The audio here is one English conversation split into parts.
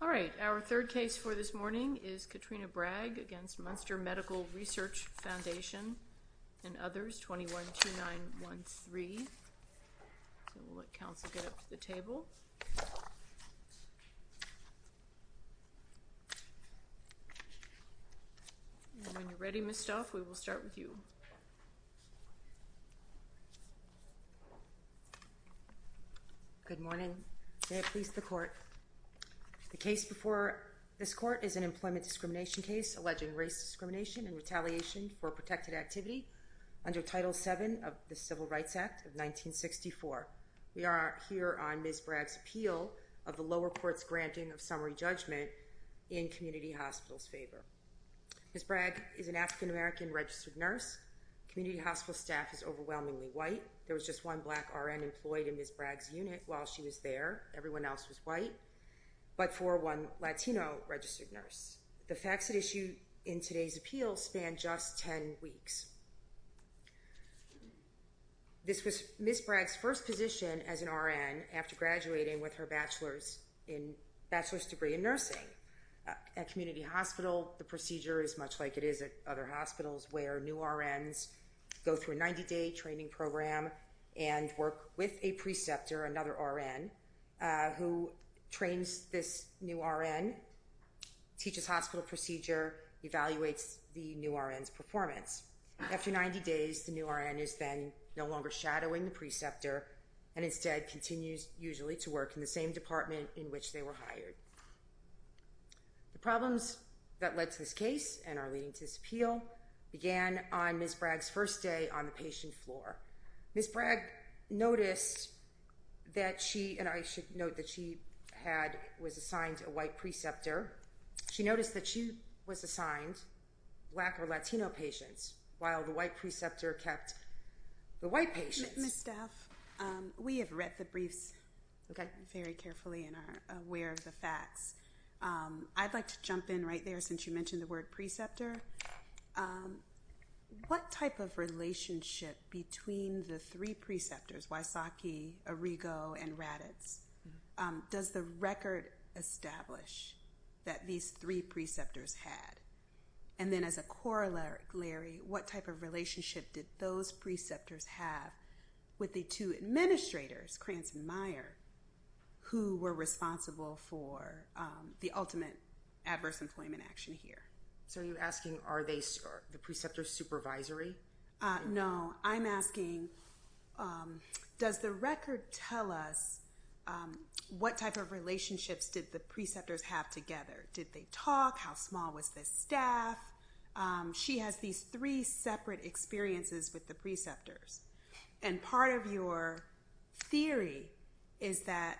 All right. Our third case for this morning is Katrina Bragg against Munster Medical Research Foundation and others, 212913. We'll let counsel get up to the table. When you're ready, Ms. Stauff, we will start with you. Good morning. May it please the Court that the case before this Court is an employment discrimination case alleging race discrimination and retaliation for protected activity under Title VII of the Civil Rights Act of 1964. We are here on Ms. Bragg's appeal of the lower court's granting of summary judgment in community hospitals' favor. Ms. Bragg is an African American registered nurse. Community hospital staff is overwhelmingly white. There was just one black RN employed in Ms. Bragg's unit while she was there. Everyone else was white, but for one Latino registered nurse. The facts at issue in today's appeal span just 10 weeks. This was Ms. Bragg's first position as an RN after graduating with her bachelor's degree in nursing. At community hospital, the procedure is much like it is at other hospitals where new RNs go through a 90-day training program and work with a preceptor, another RN, who trains this new RN, teaches hospital procedure, evaluates the new RN's performance. After 90 days, the new RN is then no longer shadowing the preceptor and instead continues usually to work in the same department in which they were hired. The problems that led to this case and are leading to this appeal began on Ms. Bragg's first day on the patient floor. Ms. Bragg noticed that she, and I should note that she had, was assigned a white preceptor. She noticed that she was assigned black or Latino patients while the white preceptor kept the white patients. Ms. Staff, we have read the briefs very carefully and are aware of the facts. I'd like to jump in right there since you mentioned the word preceptor. What type of relationship between the three preceptors, Wysocki, Arrigo, and Raditz, does the record establish that these three preceptors had? And then as a corollary, what type of relationship did those preceptors have with the two administrators, Krantz and Meyer, who were responsible for the ultimate adverse employment action here? So you're asking are they the preceptor's supervisory? No, I'm asking does the record tell us what type of relationships did the preceptors have together? Did they talk? How small was the staff? She has these three separate experiences with the preceptors. And part of your theory is that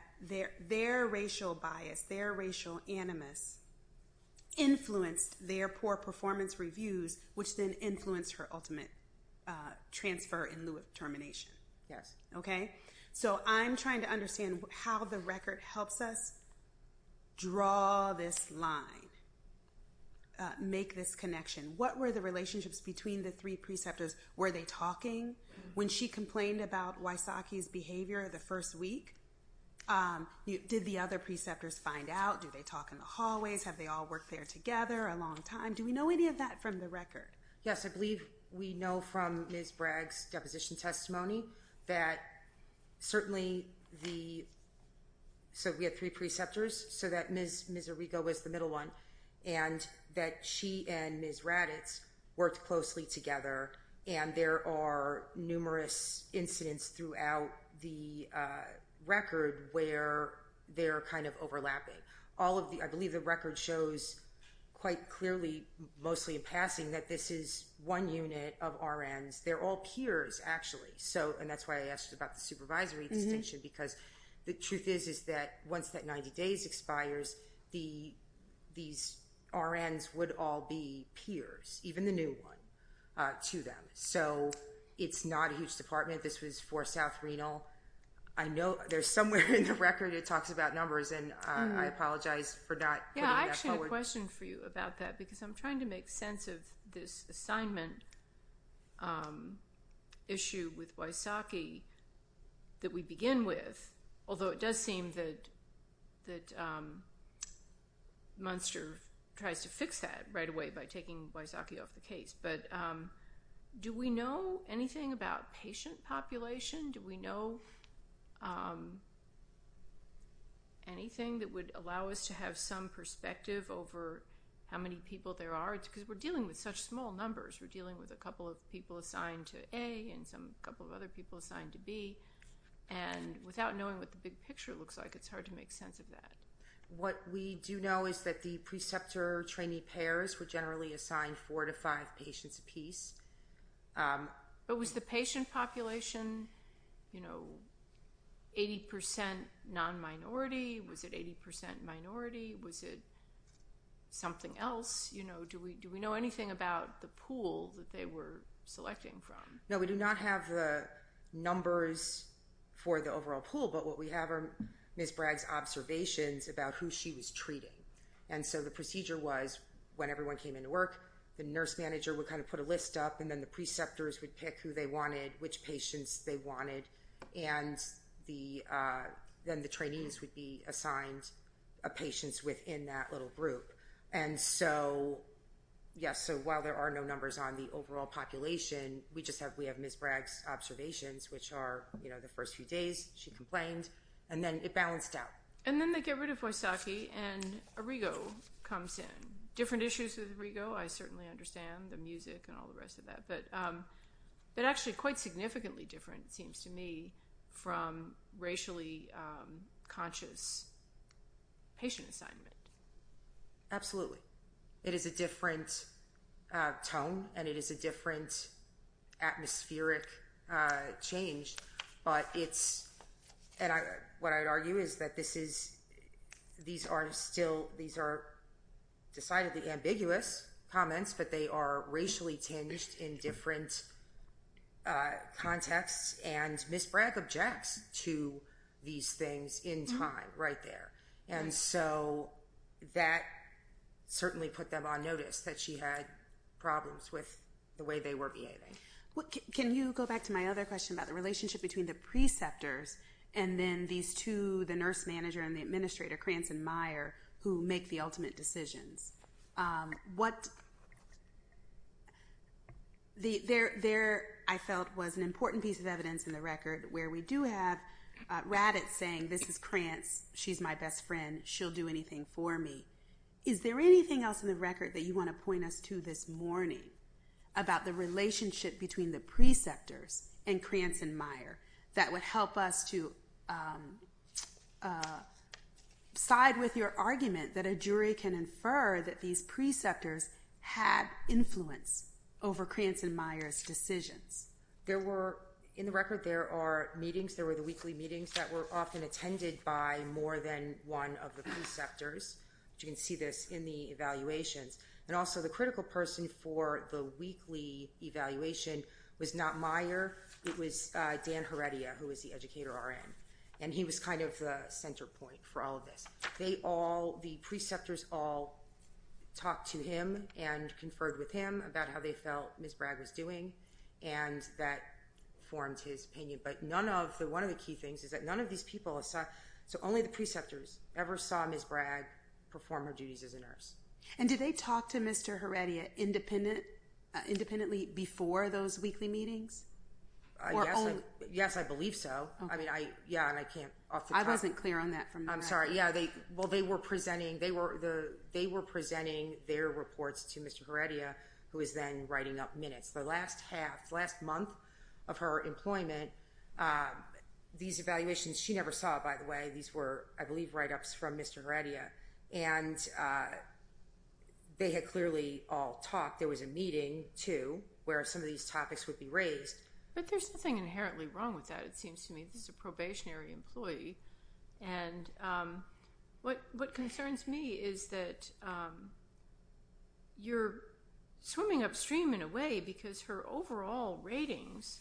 their racial bias, their racial animus, influenced their poor performance reviews, which then influenced her ultimate transfer in lieu of termination. Yes. Okay? So I'm trying to understand how the record helps us draw this line, make this clear. Were they talking when she complained about Wysocki's behavior the first week? Did the other preceptors find out? Do they talk in the hallways? Have they all worked there together a long time? Do we know any of that from the record? Yes, I believe we know from Ms. Bragg's deposition testimony that certainly the, so we had three preceptors, so that Ms. Arrigo was the middle one, and that she and Ms. Raditz worked closely together, and there are numerous incidents throughout the record where they're kind of overlapping. All of the, I believe the record shows quite clearly, mostly in passing, that this is one unit of RNs. They're all peers, actually. So, and that's why I asked about the supervisory distinction, because the truth is is that once that 90 days expires, these RNs would all be peers, even the new one, to them. So it's not a huge department. This was for South Renal. I know there's somewhere in the record it talks about numbers, and I apologize for not putting that forward. Yeah, I actually had a question for you about that, because I'm trying to make sense of this assignment issue with Wysocki that we begin with, although it does seem that Munster tries to fix that right away by taking Wysocki off the case, but do we know anything about patient population? Do we know anything that would allow us to have some perspective over how many people there are? Because we're dealing with such small numbers. We're dealing with a couple of people assigned to A and a couple of other people assigned to B, and without knowing what the big picture looks like, it's hard to make sense of that. What we do know is that the preceptor-trainee pairs were generally assigned four to five patients apiece. Was the patient population 80% non-minority? Was it 80% minority? Was it something else? Do we know anything about the pool that they were selecting from? No, we do not have the numbers for the overall pool, but what we have are Ms. Bragg's observations about who she was treating. The procedure was when everyone came into work, the nurse manager would put a list up, and then the preceptors would pick who they wanted, which patients they wanted, and then the trainees would be assigned patients within that little group. Yes, so while there are no numbers on the overall population, we have Ms. Bragg's observations, which are the first few days, she complained, and then it balanced out. And then they get rid of Vaisakhi, and Arrigo comes in. Different issues with Arrigo, I certainly understand, the music and all the rest of that, but actually quite significantly different it seems to me from racially conscious patient assignment. Absolutely. It is a different tone, and it is a different atmospheric change, but it's and what I would argue is that this is, these are still, these are decidedly ambiguous comments, but they are racially tinged in different contexts, and Ms. Bragg objects to these things in time right there. And so that certainly put them on notice that she had problems with the way they were behaving. Can you go back to my other question about the relationship between the preceptors and then these two, the nurse manager and the administrator, Krantz and Meyer, who make the ultimate decisions? There, I felt, was an important piece of evidence in the record where we do have Raddatz saying, this is Krantz, she's my best friend, she'll do anything for me. Is there anything else in the record that you want to point us to this morning about the relationship between the preceptors and Krantz and Meyer that would help us to side with your argument that a jury can infer that these preceptors had influence over Krantz and Meyer's decisions? There were, in the record there are meetings, there were the weekly meetings that were often attended by more than one of the preceptors. You can see this in the evaluations. And also the critical person for the weekly evaluation was not Meyer, it was Dan Heredia, who was the educator RN. And he was kind of the center point for all of this. They all, the preceptors all talked to him and conferred with him about how they felt Ms. Bragg was doing and that formed his opinion. But none of the, one of the key things is that none of these people saw, so only the preceptors ever saw Ms. Bragg perform her duties as a nurse. And did they talk to Mr. Heredia independently before those weekly meetings? Yes, I believe so. I mean, yeah, and I can't off the top of my head. I wasn't clear on that from the record. I'm sorry. Yeah, well they were presenting, they were presenting their reports to Mr. Heredia, who was then writing up minutes. The last half, last month of her employment, these evaluations, she never saw it by the way, these were, I believe, write-ups from Mr. Heredia. And they had clearly all talked. There was a meeting too, where some of these topics would be raised. But there's nothing inherently wrong with that, it seems to me. This is a probationary employee. And what concerns me is that you're swimming upstream in a way because her overall ratings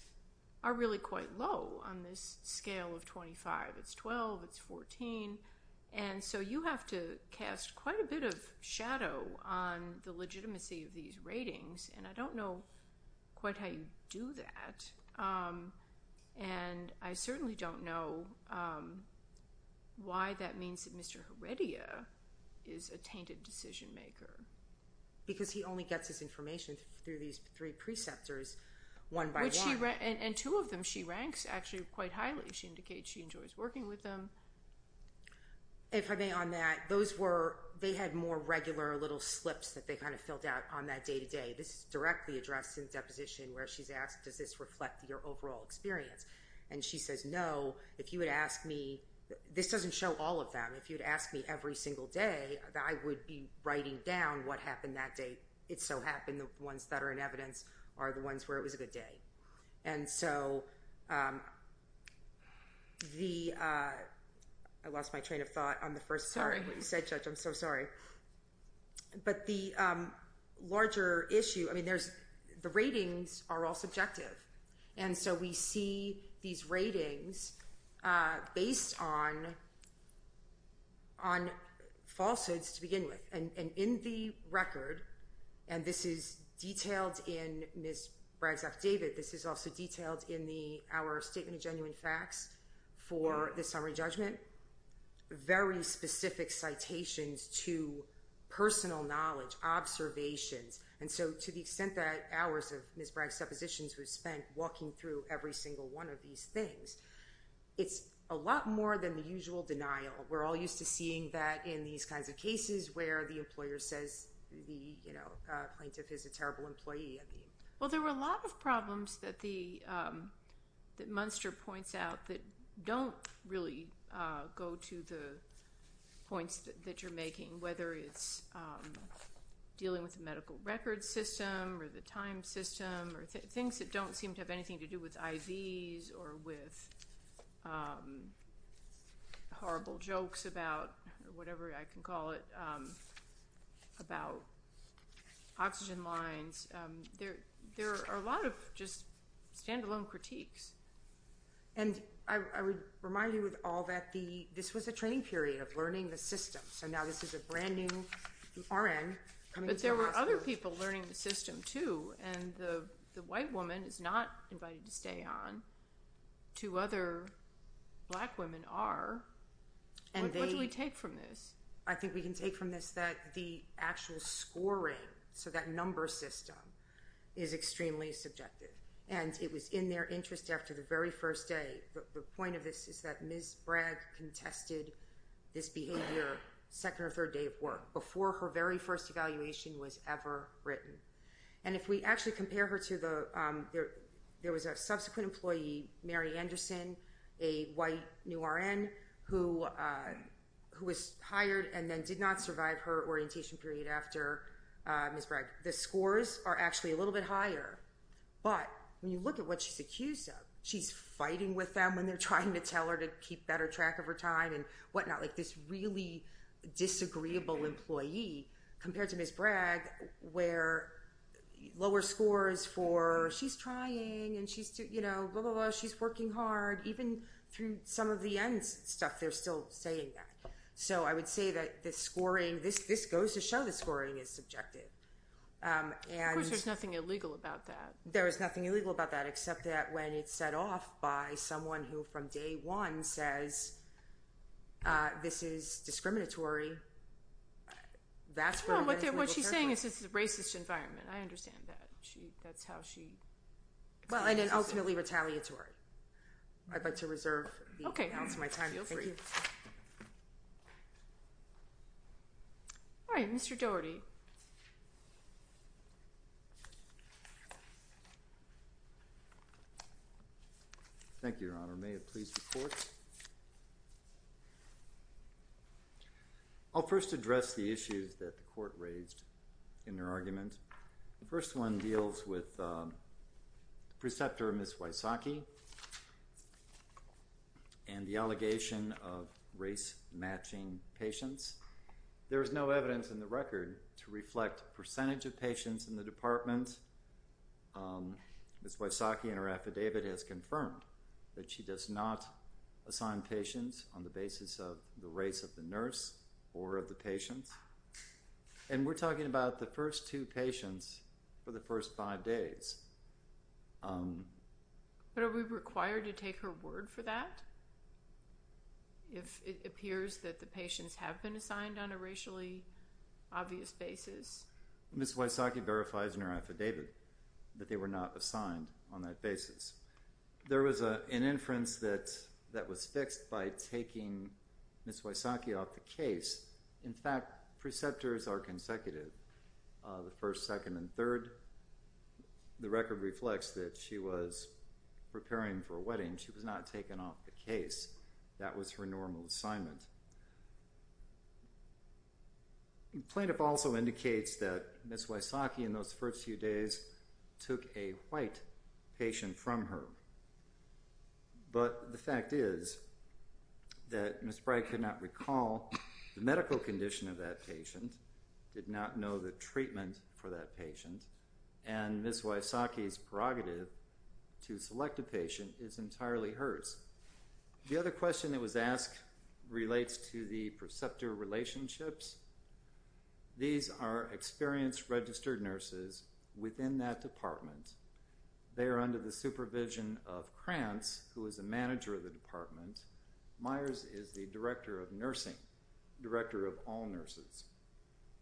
are really quite low on this scale of 25. It's 12, it's 14. And so, you know, you have to cast quite a bit of shadow on the legitimacy of these ratings. And I don't know quite how you do that. And I certainly don't know why that means that Mr. Heredia is a tainted decision maker. Because he only gets his information through these three preceptors one by one. And two of them she ranks actually quite highly. She indicates she enjoys working with them. If I may on that, those were, they had more regular little slips that they kind of filled out on that day-to-day. This is directly addressed in the deposition where she's asked, does this reflect your overall experience? And she says, no, if you would ask me, this doesn't show all of them, if you would ask me every single day, I would be writing down what happened that day. It so happened the ones that are in evidence are the ones where it was a good day. And so the, I lost my train of thought on the first part of what you said, Judge, I'm so sorry. But the larger issue, I mean, there's, the ratings are all subjective. And so we see these ratings based on, on falsehoods to begin with. And in the record, and this is detailed in Ms. Bragg's affidavit, this is also detailed in the, our statement of genuine facts for the summary judgment. Very specific citations to personal knowledge, observations. And so to the extent that hours of Ms. Bragg's depositions were spent walking through every single one of these things, it's a lot more than the usual denial. We're all used to seeing that in these kinds of cases where the employer says the, you know, plaintiff is a terrible employee, I mean. Well, there were a lot of problems that the, that Munster points out that don't really go to the points that you're making, whether it's dealing with the medical record system or the time system or things that don't seem to have anything to do with IVs or with horrible jokes about, whatever I can call it, about oxygen lines. There, there are a lot of just standalone critiques. And I, I would remind you of all that the, this was a training period of learning the system. So now this is a brand new RN coming into the hospital. But there were other people learning the system too. And the, the white woman is not invited to stay on. Two other black women are. And what do we take from this? I think we can take from this that the actual scoring, so that number system, is extremely subjective. And it was in their interest after the very first day, the point of this is that Ms. Bragg contested this behavior second or third day of work, before her very first evaluation was ever written. And if we actually compare her to the, there was a subsequent employee, Mary Anderson, a white new RN, who, who was hired and then did not survive her orientation period after Ms. Bragg. The scores are actually a little bit higher. But when you look at what she's accused of, she's fighting with them when they're trying to tell her to keep better track of her time and whatnot, like this really disagreeable employee, compared to Ms. Bragg, where lower scores for she's trying and she's, you know, blah, blah, blah, she's working hard, even through some of the end stuff, they're still saying that. So I would say that the scoring, this, this goes to show the scoring is subjective. Of course, there's nothing illegal about that. There is nothing illegal about that, except that when it's set off by someone who from day one says, this is discriminatory. That's what she's saying is it's a racist environment. I understand that. She, that's how she, well, and then ultimately retaliatory. I'd like to reserve my time. All right, Mr. Doherty. Thank you, Your Honor. May it please the Court. I'll first address the issues that the Court raised in their argument. The first one deals with the preceptor, Ms. Wysocki, and the allegation of race-matching patients. There is no evidence in the record to reflect percentage of patients in the department. Ms. Wysocki in her affidavit has confirmed that she does not assign patients on the basis of the race of the nurse or of the patients. And we're talking about the first two patients for the first five days. But are we required to take her word for that? If it appears that the patients have been assigned on a racially obvious basis? Ms. Wysocki verifies in her affidavit that they were not assigned on that basis. There was an inference that was fixed by taking Ms. Wysocki off the case. In fact, preceptors are consecutive, the first, second, and third. The record reflects that she was preparing for a wedding. She was not taken off the case. That was her normal assignment. Plaintiff also indicates that Ms. Wysocki in those first few days took a white patient from her. But the fact is that Ms. Bright could not recall the medical condition of that patient, did not know the treatment for that patient, and Ms. Wysocki's prerogative to select a patient is entirely hers. The other question that was asked relates to the preceptor relationships. These are the supervision of Krantz, who is the manager of the department. Myers is the director of nursing, director of all nurses.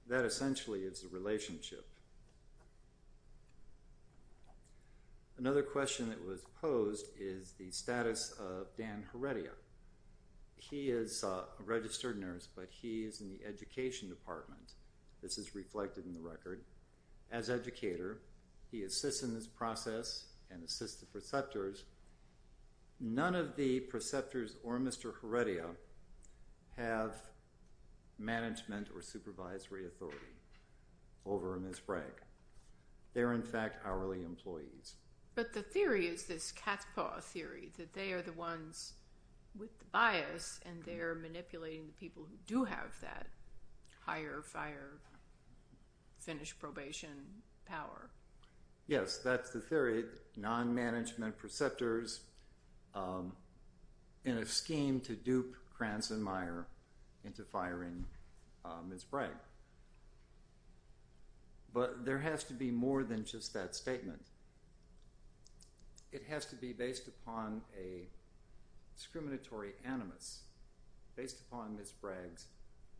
That essentially is the relationship. Another question that was posed is the status of Dan Heredia. He is a registered nurse, but he is in the education department. This is reflected in the record. As educator, he assists in this process and assists the preceptors. None of the preceptors or Mr. Heredia have management or supervisory authority over Ms. Bright. They are, in fact, hourly employees. But the theory is this cat's paw theory, that they are the ones with the bias and they are manipulating the people who do have that higher fire, finish probation power. Yes, that's the theory, non-management preceptors in a scheme to dupe Krantz and Meyer into firing Ms. Bragg. But there has to be more than just that statement. It has to be based upon a discriminatory animus, based upon Ms. Bragg's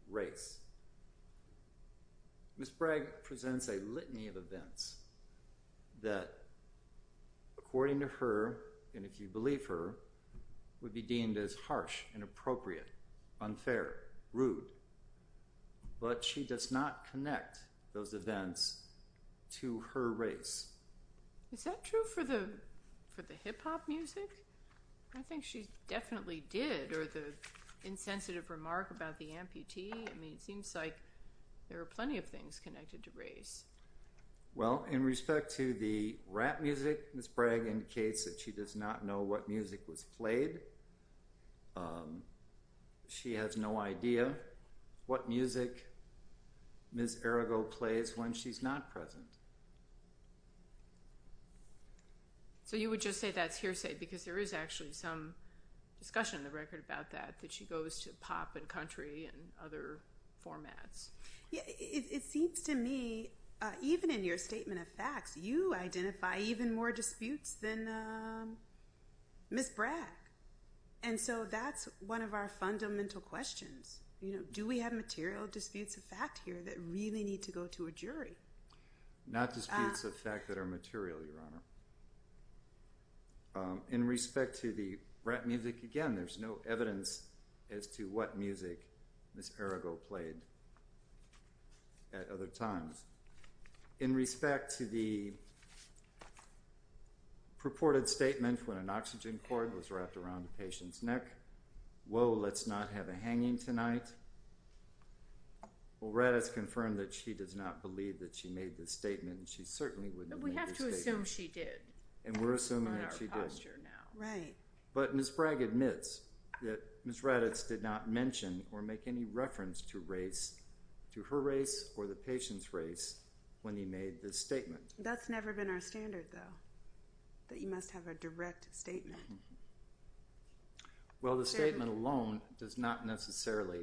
race. Ms. Bragg presents a litany of events that, according to her, and if you believe her, would be deemed as harsh, inappropriate, unfair, rude. But she does not connect those events to her race. Is that true for the hip-hop music? I think she definitely did, or the insensitive remark about the amputee. I mean, it seems like there are plenty of things connected to race. Well, in respect to the rap music, Ms. Bragg indicates that she does not know what music was played. She has no idea what music Ms. Arago plays when she's not present. So you would just say that's hearsay, because there is actually some discussion in the record about that, that she goes to pop and country and other formats. It seems to me, even in your statement of facts, you identify even more disputes than Ms. Bragg. And so that's one of our fundamental questions. Do we have material disputes of fact here that really need to go to a jury? Not disputes of fact that are material, Your evidence as to what music Ms. Arago played at other times. In respect to the purported statement when an oxygen cord was wrapped around a patient's neck, whoa, let's not have a hanging tonight. Well, Raddatz confirmed that she does not believe that she made this statement, and she certainly wouldn't have made this statement. But we have to assume she did. And we're assuming that she did. But Ms. Bragg admits that Ms. Raddatz did not mention or make any reference to her race or the patient's race when he made this statement. That's never been our standard, though, that you must have a direct statement. Well, the statement alone does not necessarily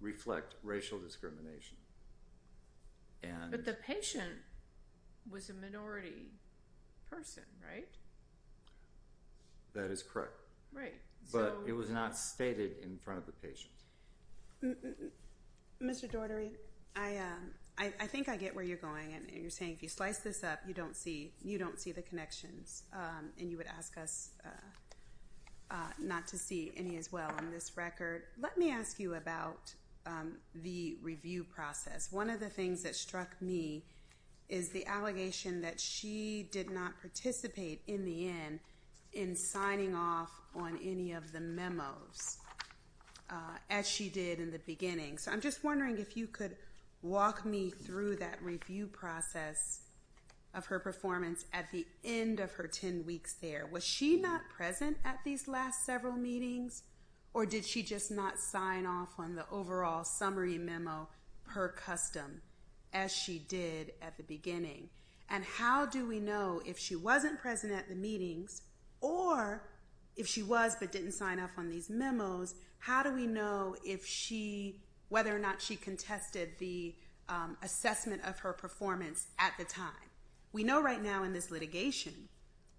reflect racial discrimination. But the patient was a minority person, right? That is correct. But it was not stated in front of the patient. Mr. Daugherty, I think I get where you're going. And you're saying if you slice this up, you don't see the connections. And you would ask us not to see any as well on this record. Let me ask you about the review process. One of the things that struck me is the allegation that she did not participate in the end in signing off on any of the memos as she did in the beginning. So I'm just wondering if you could walk me through that review process of her performance at the end of her 10 weeks there. Was she not present at these last several meetings? Or did she just not sign off on the overall summary memo per custom as she did at the beginning? And how do we know if she wasn't present at the meetings, or if she was but didn't sign off on these memos, how do we know whether or not she contested the assessment of her performance at the time? We know right now in this litigation,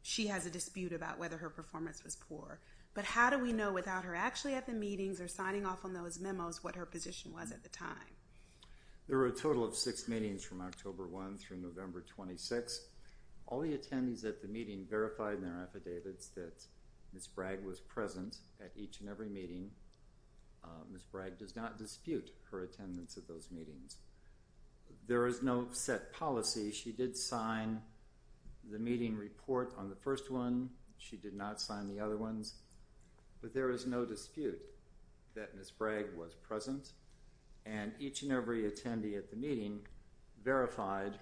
she has a dispute about whether her performance was poor. But how do we know without her actually at the meetings or signing off on those memos what her position was at the time? There were a total of six meetings from October 1 through November 26. All the attendees at the meeting verified in their affidavits that Ms. Bragg was present at each and every meeting. Ms. Bragg does not dispute her attendance at those meetings. There is no set policy. She did sign the meeting report on the first one. She did not sign the other ones. But there is no dispute that Ms. Bragg was present. And each and every attendee at the meeting verified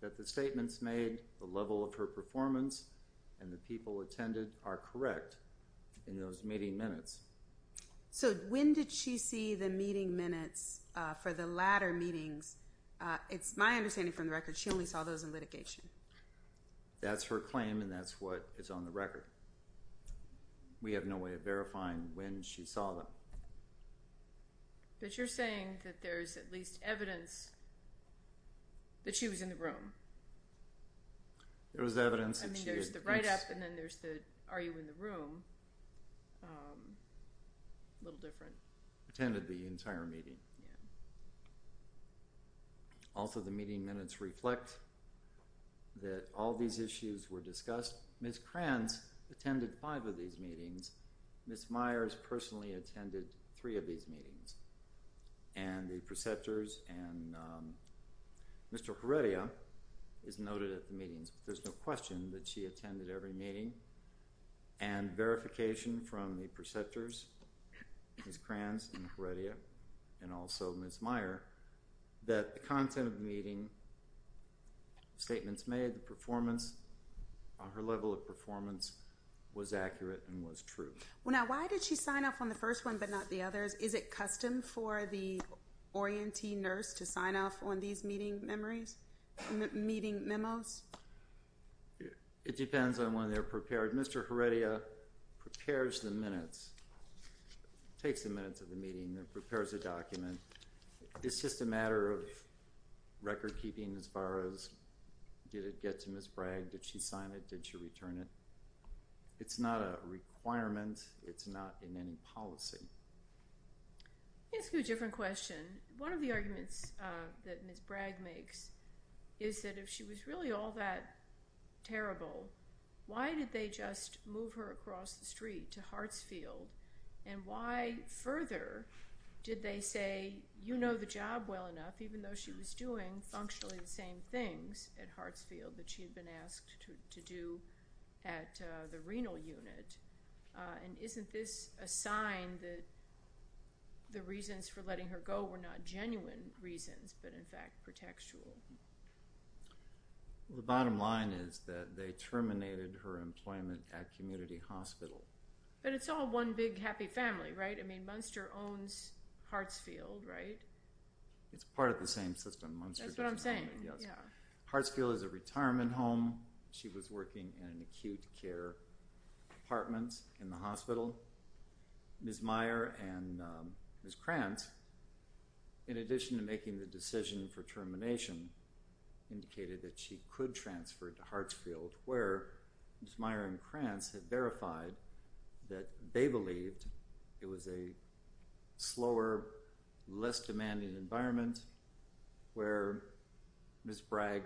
that the statements made, the level of her performance, and the people attended are correct in those meeting minutes. So when did she see the meeting minutes for the latter meetings? It's my understanding from the record, she only saw those in litigation. That's her claim and that's what is on the record. We have no way of verifying when she saw them. But you're saying that there's at least evidence that she was in the room. There was evidence that she had... There's the write-up and then there's the are you in the room. A little different. Attended the entire meeting. Also the meeting minutes reflect that all these issues were discussed. Ms. Kranz attended five of these meetings. Ms. Myers personally attended three of these meetings. And the preceptors and Mr. Heredia is noted at the meetings. There's no question that she attended every meeting. And verification from the preceptors, Ms. Kranz and Mr. Heredia, and also Ms. Meyer, that the content of the meeting, statements made, the performance, her level of performance was accurate and was true. Now why did she sign off on the first one but not the others? Is it custom for the orientee nurse to sign off on these meeting memories? It depends on when they're prepared. Mr. Heredia prepares the minutes, takes the minutes of the meeting and prepares a document. It's just a matter of record-keeping as far as did it get to Ms. Bragg? Did she sign it? Did she return it? It's not a requirement. It's not in any policy. Let me ask you a different question. One of the arguments that Ms. Bragg makes is that if she was really all that terrible, why did they just move her across the street to Hartsfield? And why further did they say, you know the job well enough even though she was doing functionally the same things at Hartsfield that she had been asked to do at the renal unit? And isn't this a sign that the reasons for letting her go were not genuine reasons but in fact pretextual? The bottom line is that they terminated her employment at community hospital. But it's all one big happy family, right? I mean Munster owns Hartsfield, right? It's part of the same system. That's what I'm saying. Hartsfield is a retirement home. She was working in an acute care department in the hospital. Ms. Meyer and Ms. Krantz in addition to making the decision for termination indicated that she could transfer to Hartsfield where Ms. Meyer and Krantz had verified that they believed it was a slower, less demanding environment where Ms. Bragg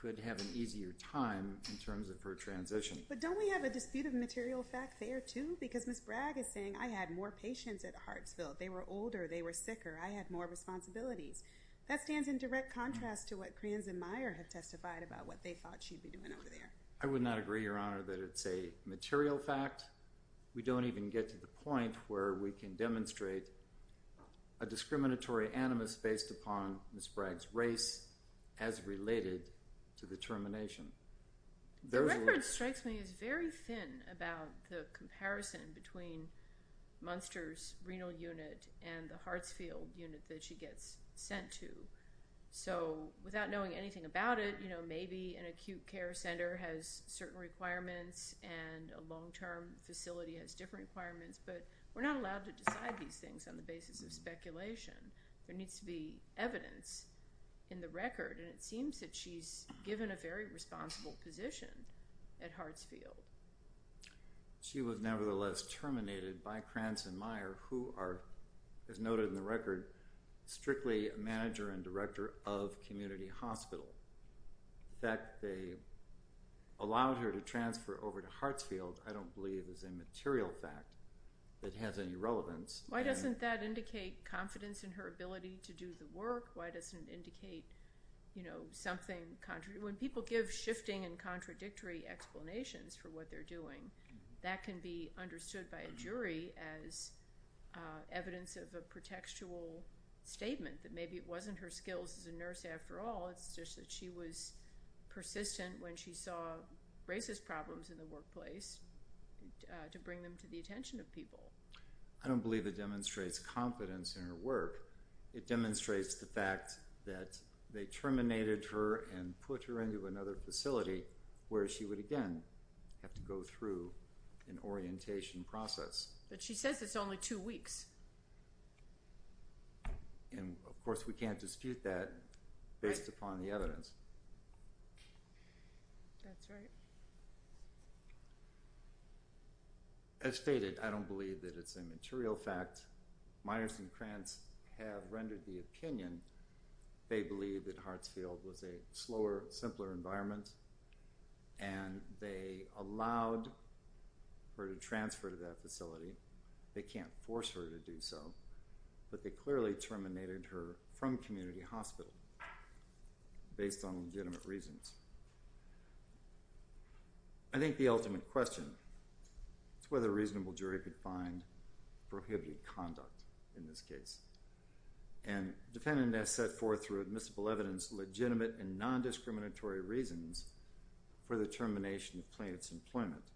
could have an easier time in terms of her transition. But don't we have a dispute of material fact there too? Because Ms. Bragg is saying I had more patients at Hartsfield. They were older. They were sicker. I had more responsibilities. That stands in direct contrast to what Krantz and Meyer have testified about what they thought she'd be doing over there. I would not agree, Your Honor, that it's a material fact. We don't even get to the point where we can demonstrate a discriminatory animus based upon Ms. Bragg's race as related to the termination. The record strikes me as very thin about the comparison between Munster's renal unit and the Hartsfield unit that she gets sent to. Without knowing anything about it, maybe an acute care center has certain requirements and a long-term facility has different requirements, but we're not allowed to decide these things on the basis of speculation. There needs to be evidence in the record and it seems that she's given a very responsible position at Hartsfield. She was nevertheless terminated by Krantz and Meyer who are, as noted in the record, strictly a manager and director of Community Hospital. In fact, they allowed her to transfer over to Hartsfield I don't believe is a material fact that has any relevance. Why doesn't that indicate confidence in her ability to do the work? Why doesn't it indicate something? When people give shifting and contradictory explanations for what they're doing, that can be understood by a jury as evidence of a pretextual statement that maybe it wasn't her skills as a nurse after all it's just that she was persistent when she saw racist problems in the workplace to bring them to the attention of people. I don't believe it demonstrates confidence in her work. It demonstrates the fact that they terminated her and put her into another facility where she would again have to go through an orientation process. But she says it's only two weeks. And of course we can't dispute that based upon the evidence. That's right. As stated, I don't believe that it's a material fact. Miners and Krantz have rendered the opinion they believe that Hartsfield was a slower, simpler environment and they allowed her to transfer to that facility. They can't force her to do so. But they clearly terminated her from community hospital based on legitimate reasons. I think the ultimate question is whether a reasonable jury could find prohibited conduct in this case. And defendant has set forth through admissible evidence legitimate and non-discriminatory reasons for the termination of plaintiff's employment.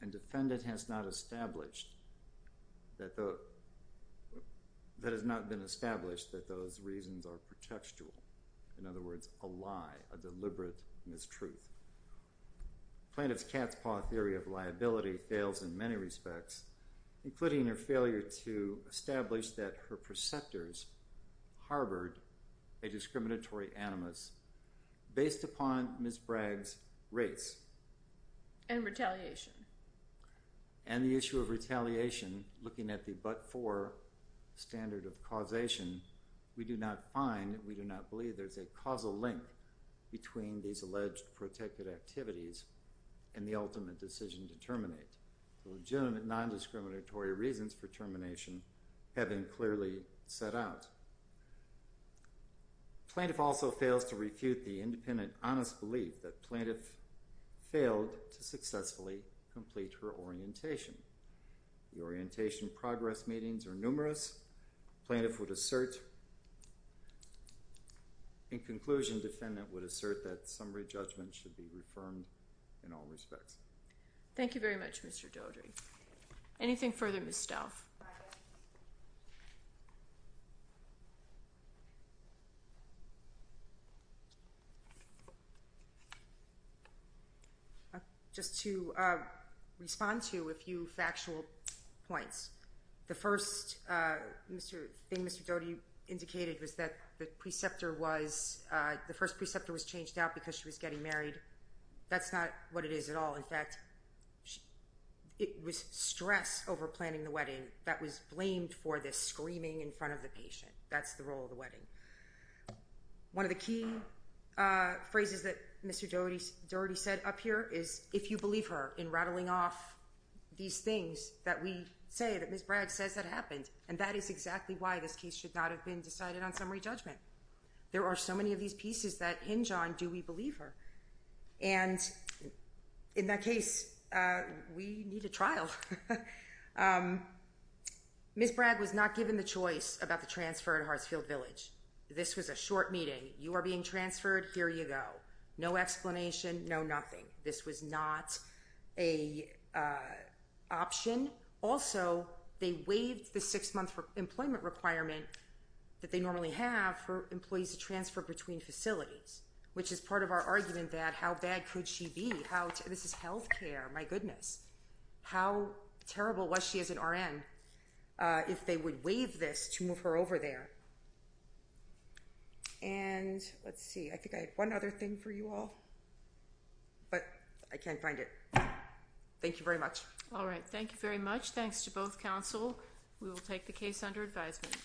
And defendant has not established that has not been established that those reasons are pretextual. In other words, a lie. A deliberate mistruth. Plaintiff's cat's paw theory of liability fails in many respects, including her failure to establish that her preceptors harbored a discriminatory animus based upon Ms. Bragg's race. And retaliation. And the issue of retaliation, looking at the but-for standard of causation, we do not find, we do not believe there's a causal link between these alleged protected activities and the ultimate decision to terminate. The legitimate, non-discriminatory reasons for termination have been clearly set out. Plaintiff also fails to refute the independent honest belief that plaintiff failed to successfully complete her orientation. The orientation progress meetings are numerous. Plaintiff would assert in conclusion, defendant would assert that her summary judgment should be reaffirmed in all respects. Thank you very much, Mr. Dodry. Anything further, Ms. Stauf? Just to respond to a few factual points. The first thing Mr. Dodry indicated was that the preceptor was the first preceptor was changed out because she was getting married. That's not what it is at all. In fact, it was stress over planning the wedding that was blamed for the screaming in front of the patient. That's the role of the wedding. One of the key phrases that Mr. Dodry said up here is if you believe her in rattling off these things that we say that Ms. Bragg says that happened. And that is exactly why this case should not have been decided on because there are so many of these pieces that hinge on do we believe her. And in that case, we need a trial. Ms. Bragg was not given the choice about the transfer at Hartsfield Village. This was a short meeting. You are being transferred, here you go. No explanation, no nothing. This was not a option. Also, they waived the six month employment requirement that they normally have for employees to transfer between facilities which is part of our argument that how bad could she be? This is health care, my goodness. How terrible was she as an RN if they would waive this to move her over there? And let's see, I think I had one other thing for you all, but I can't find it. Thank you very much. Alright, thank you very much. Thanks to both counsel. We will take the case under advisement.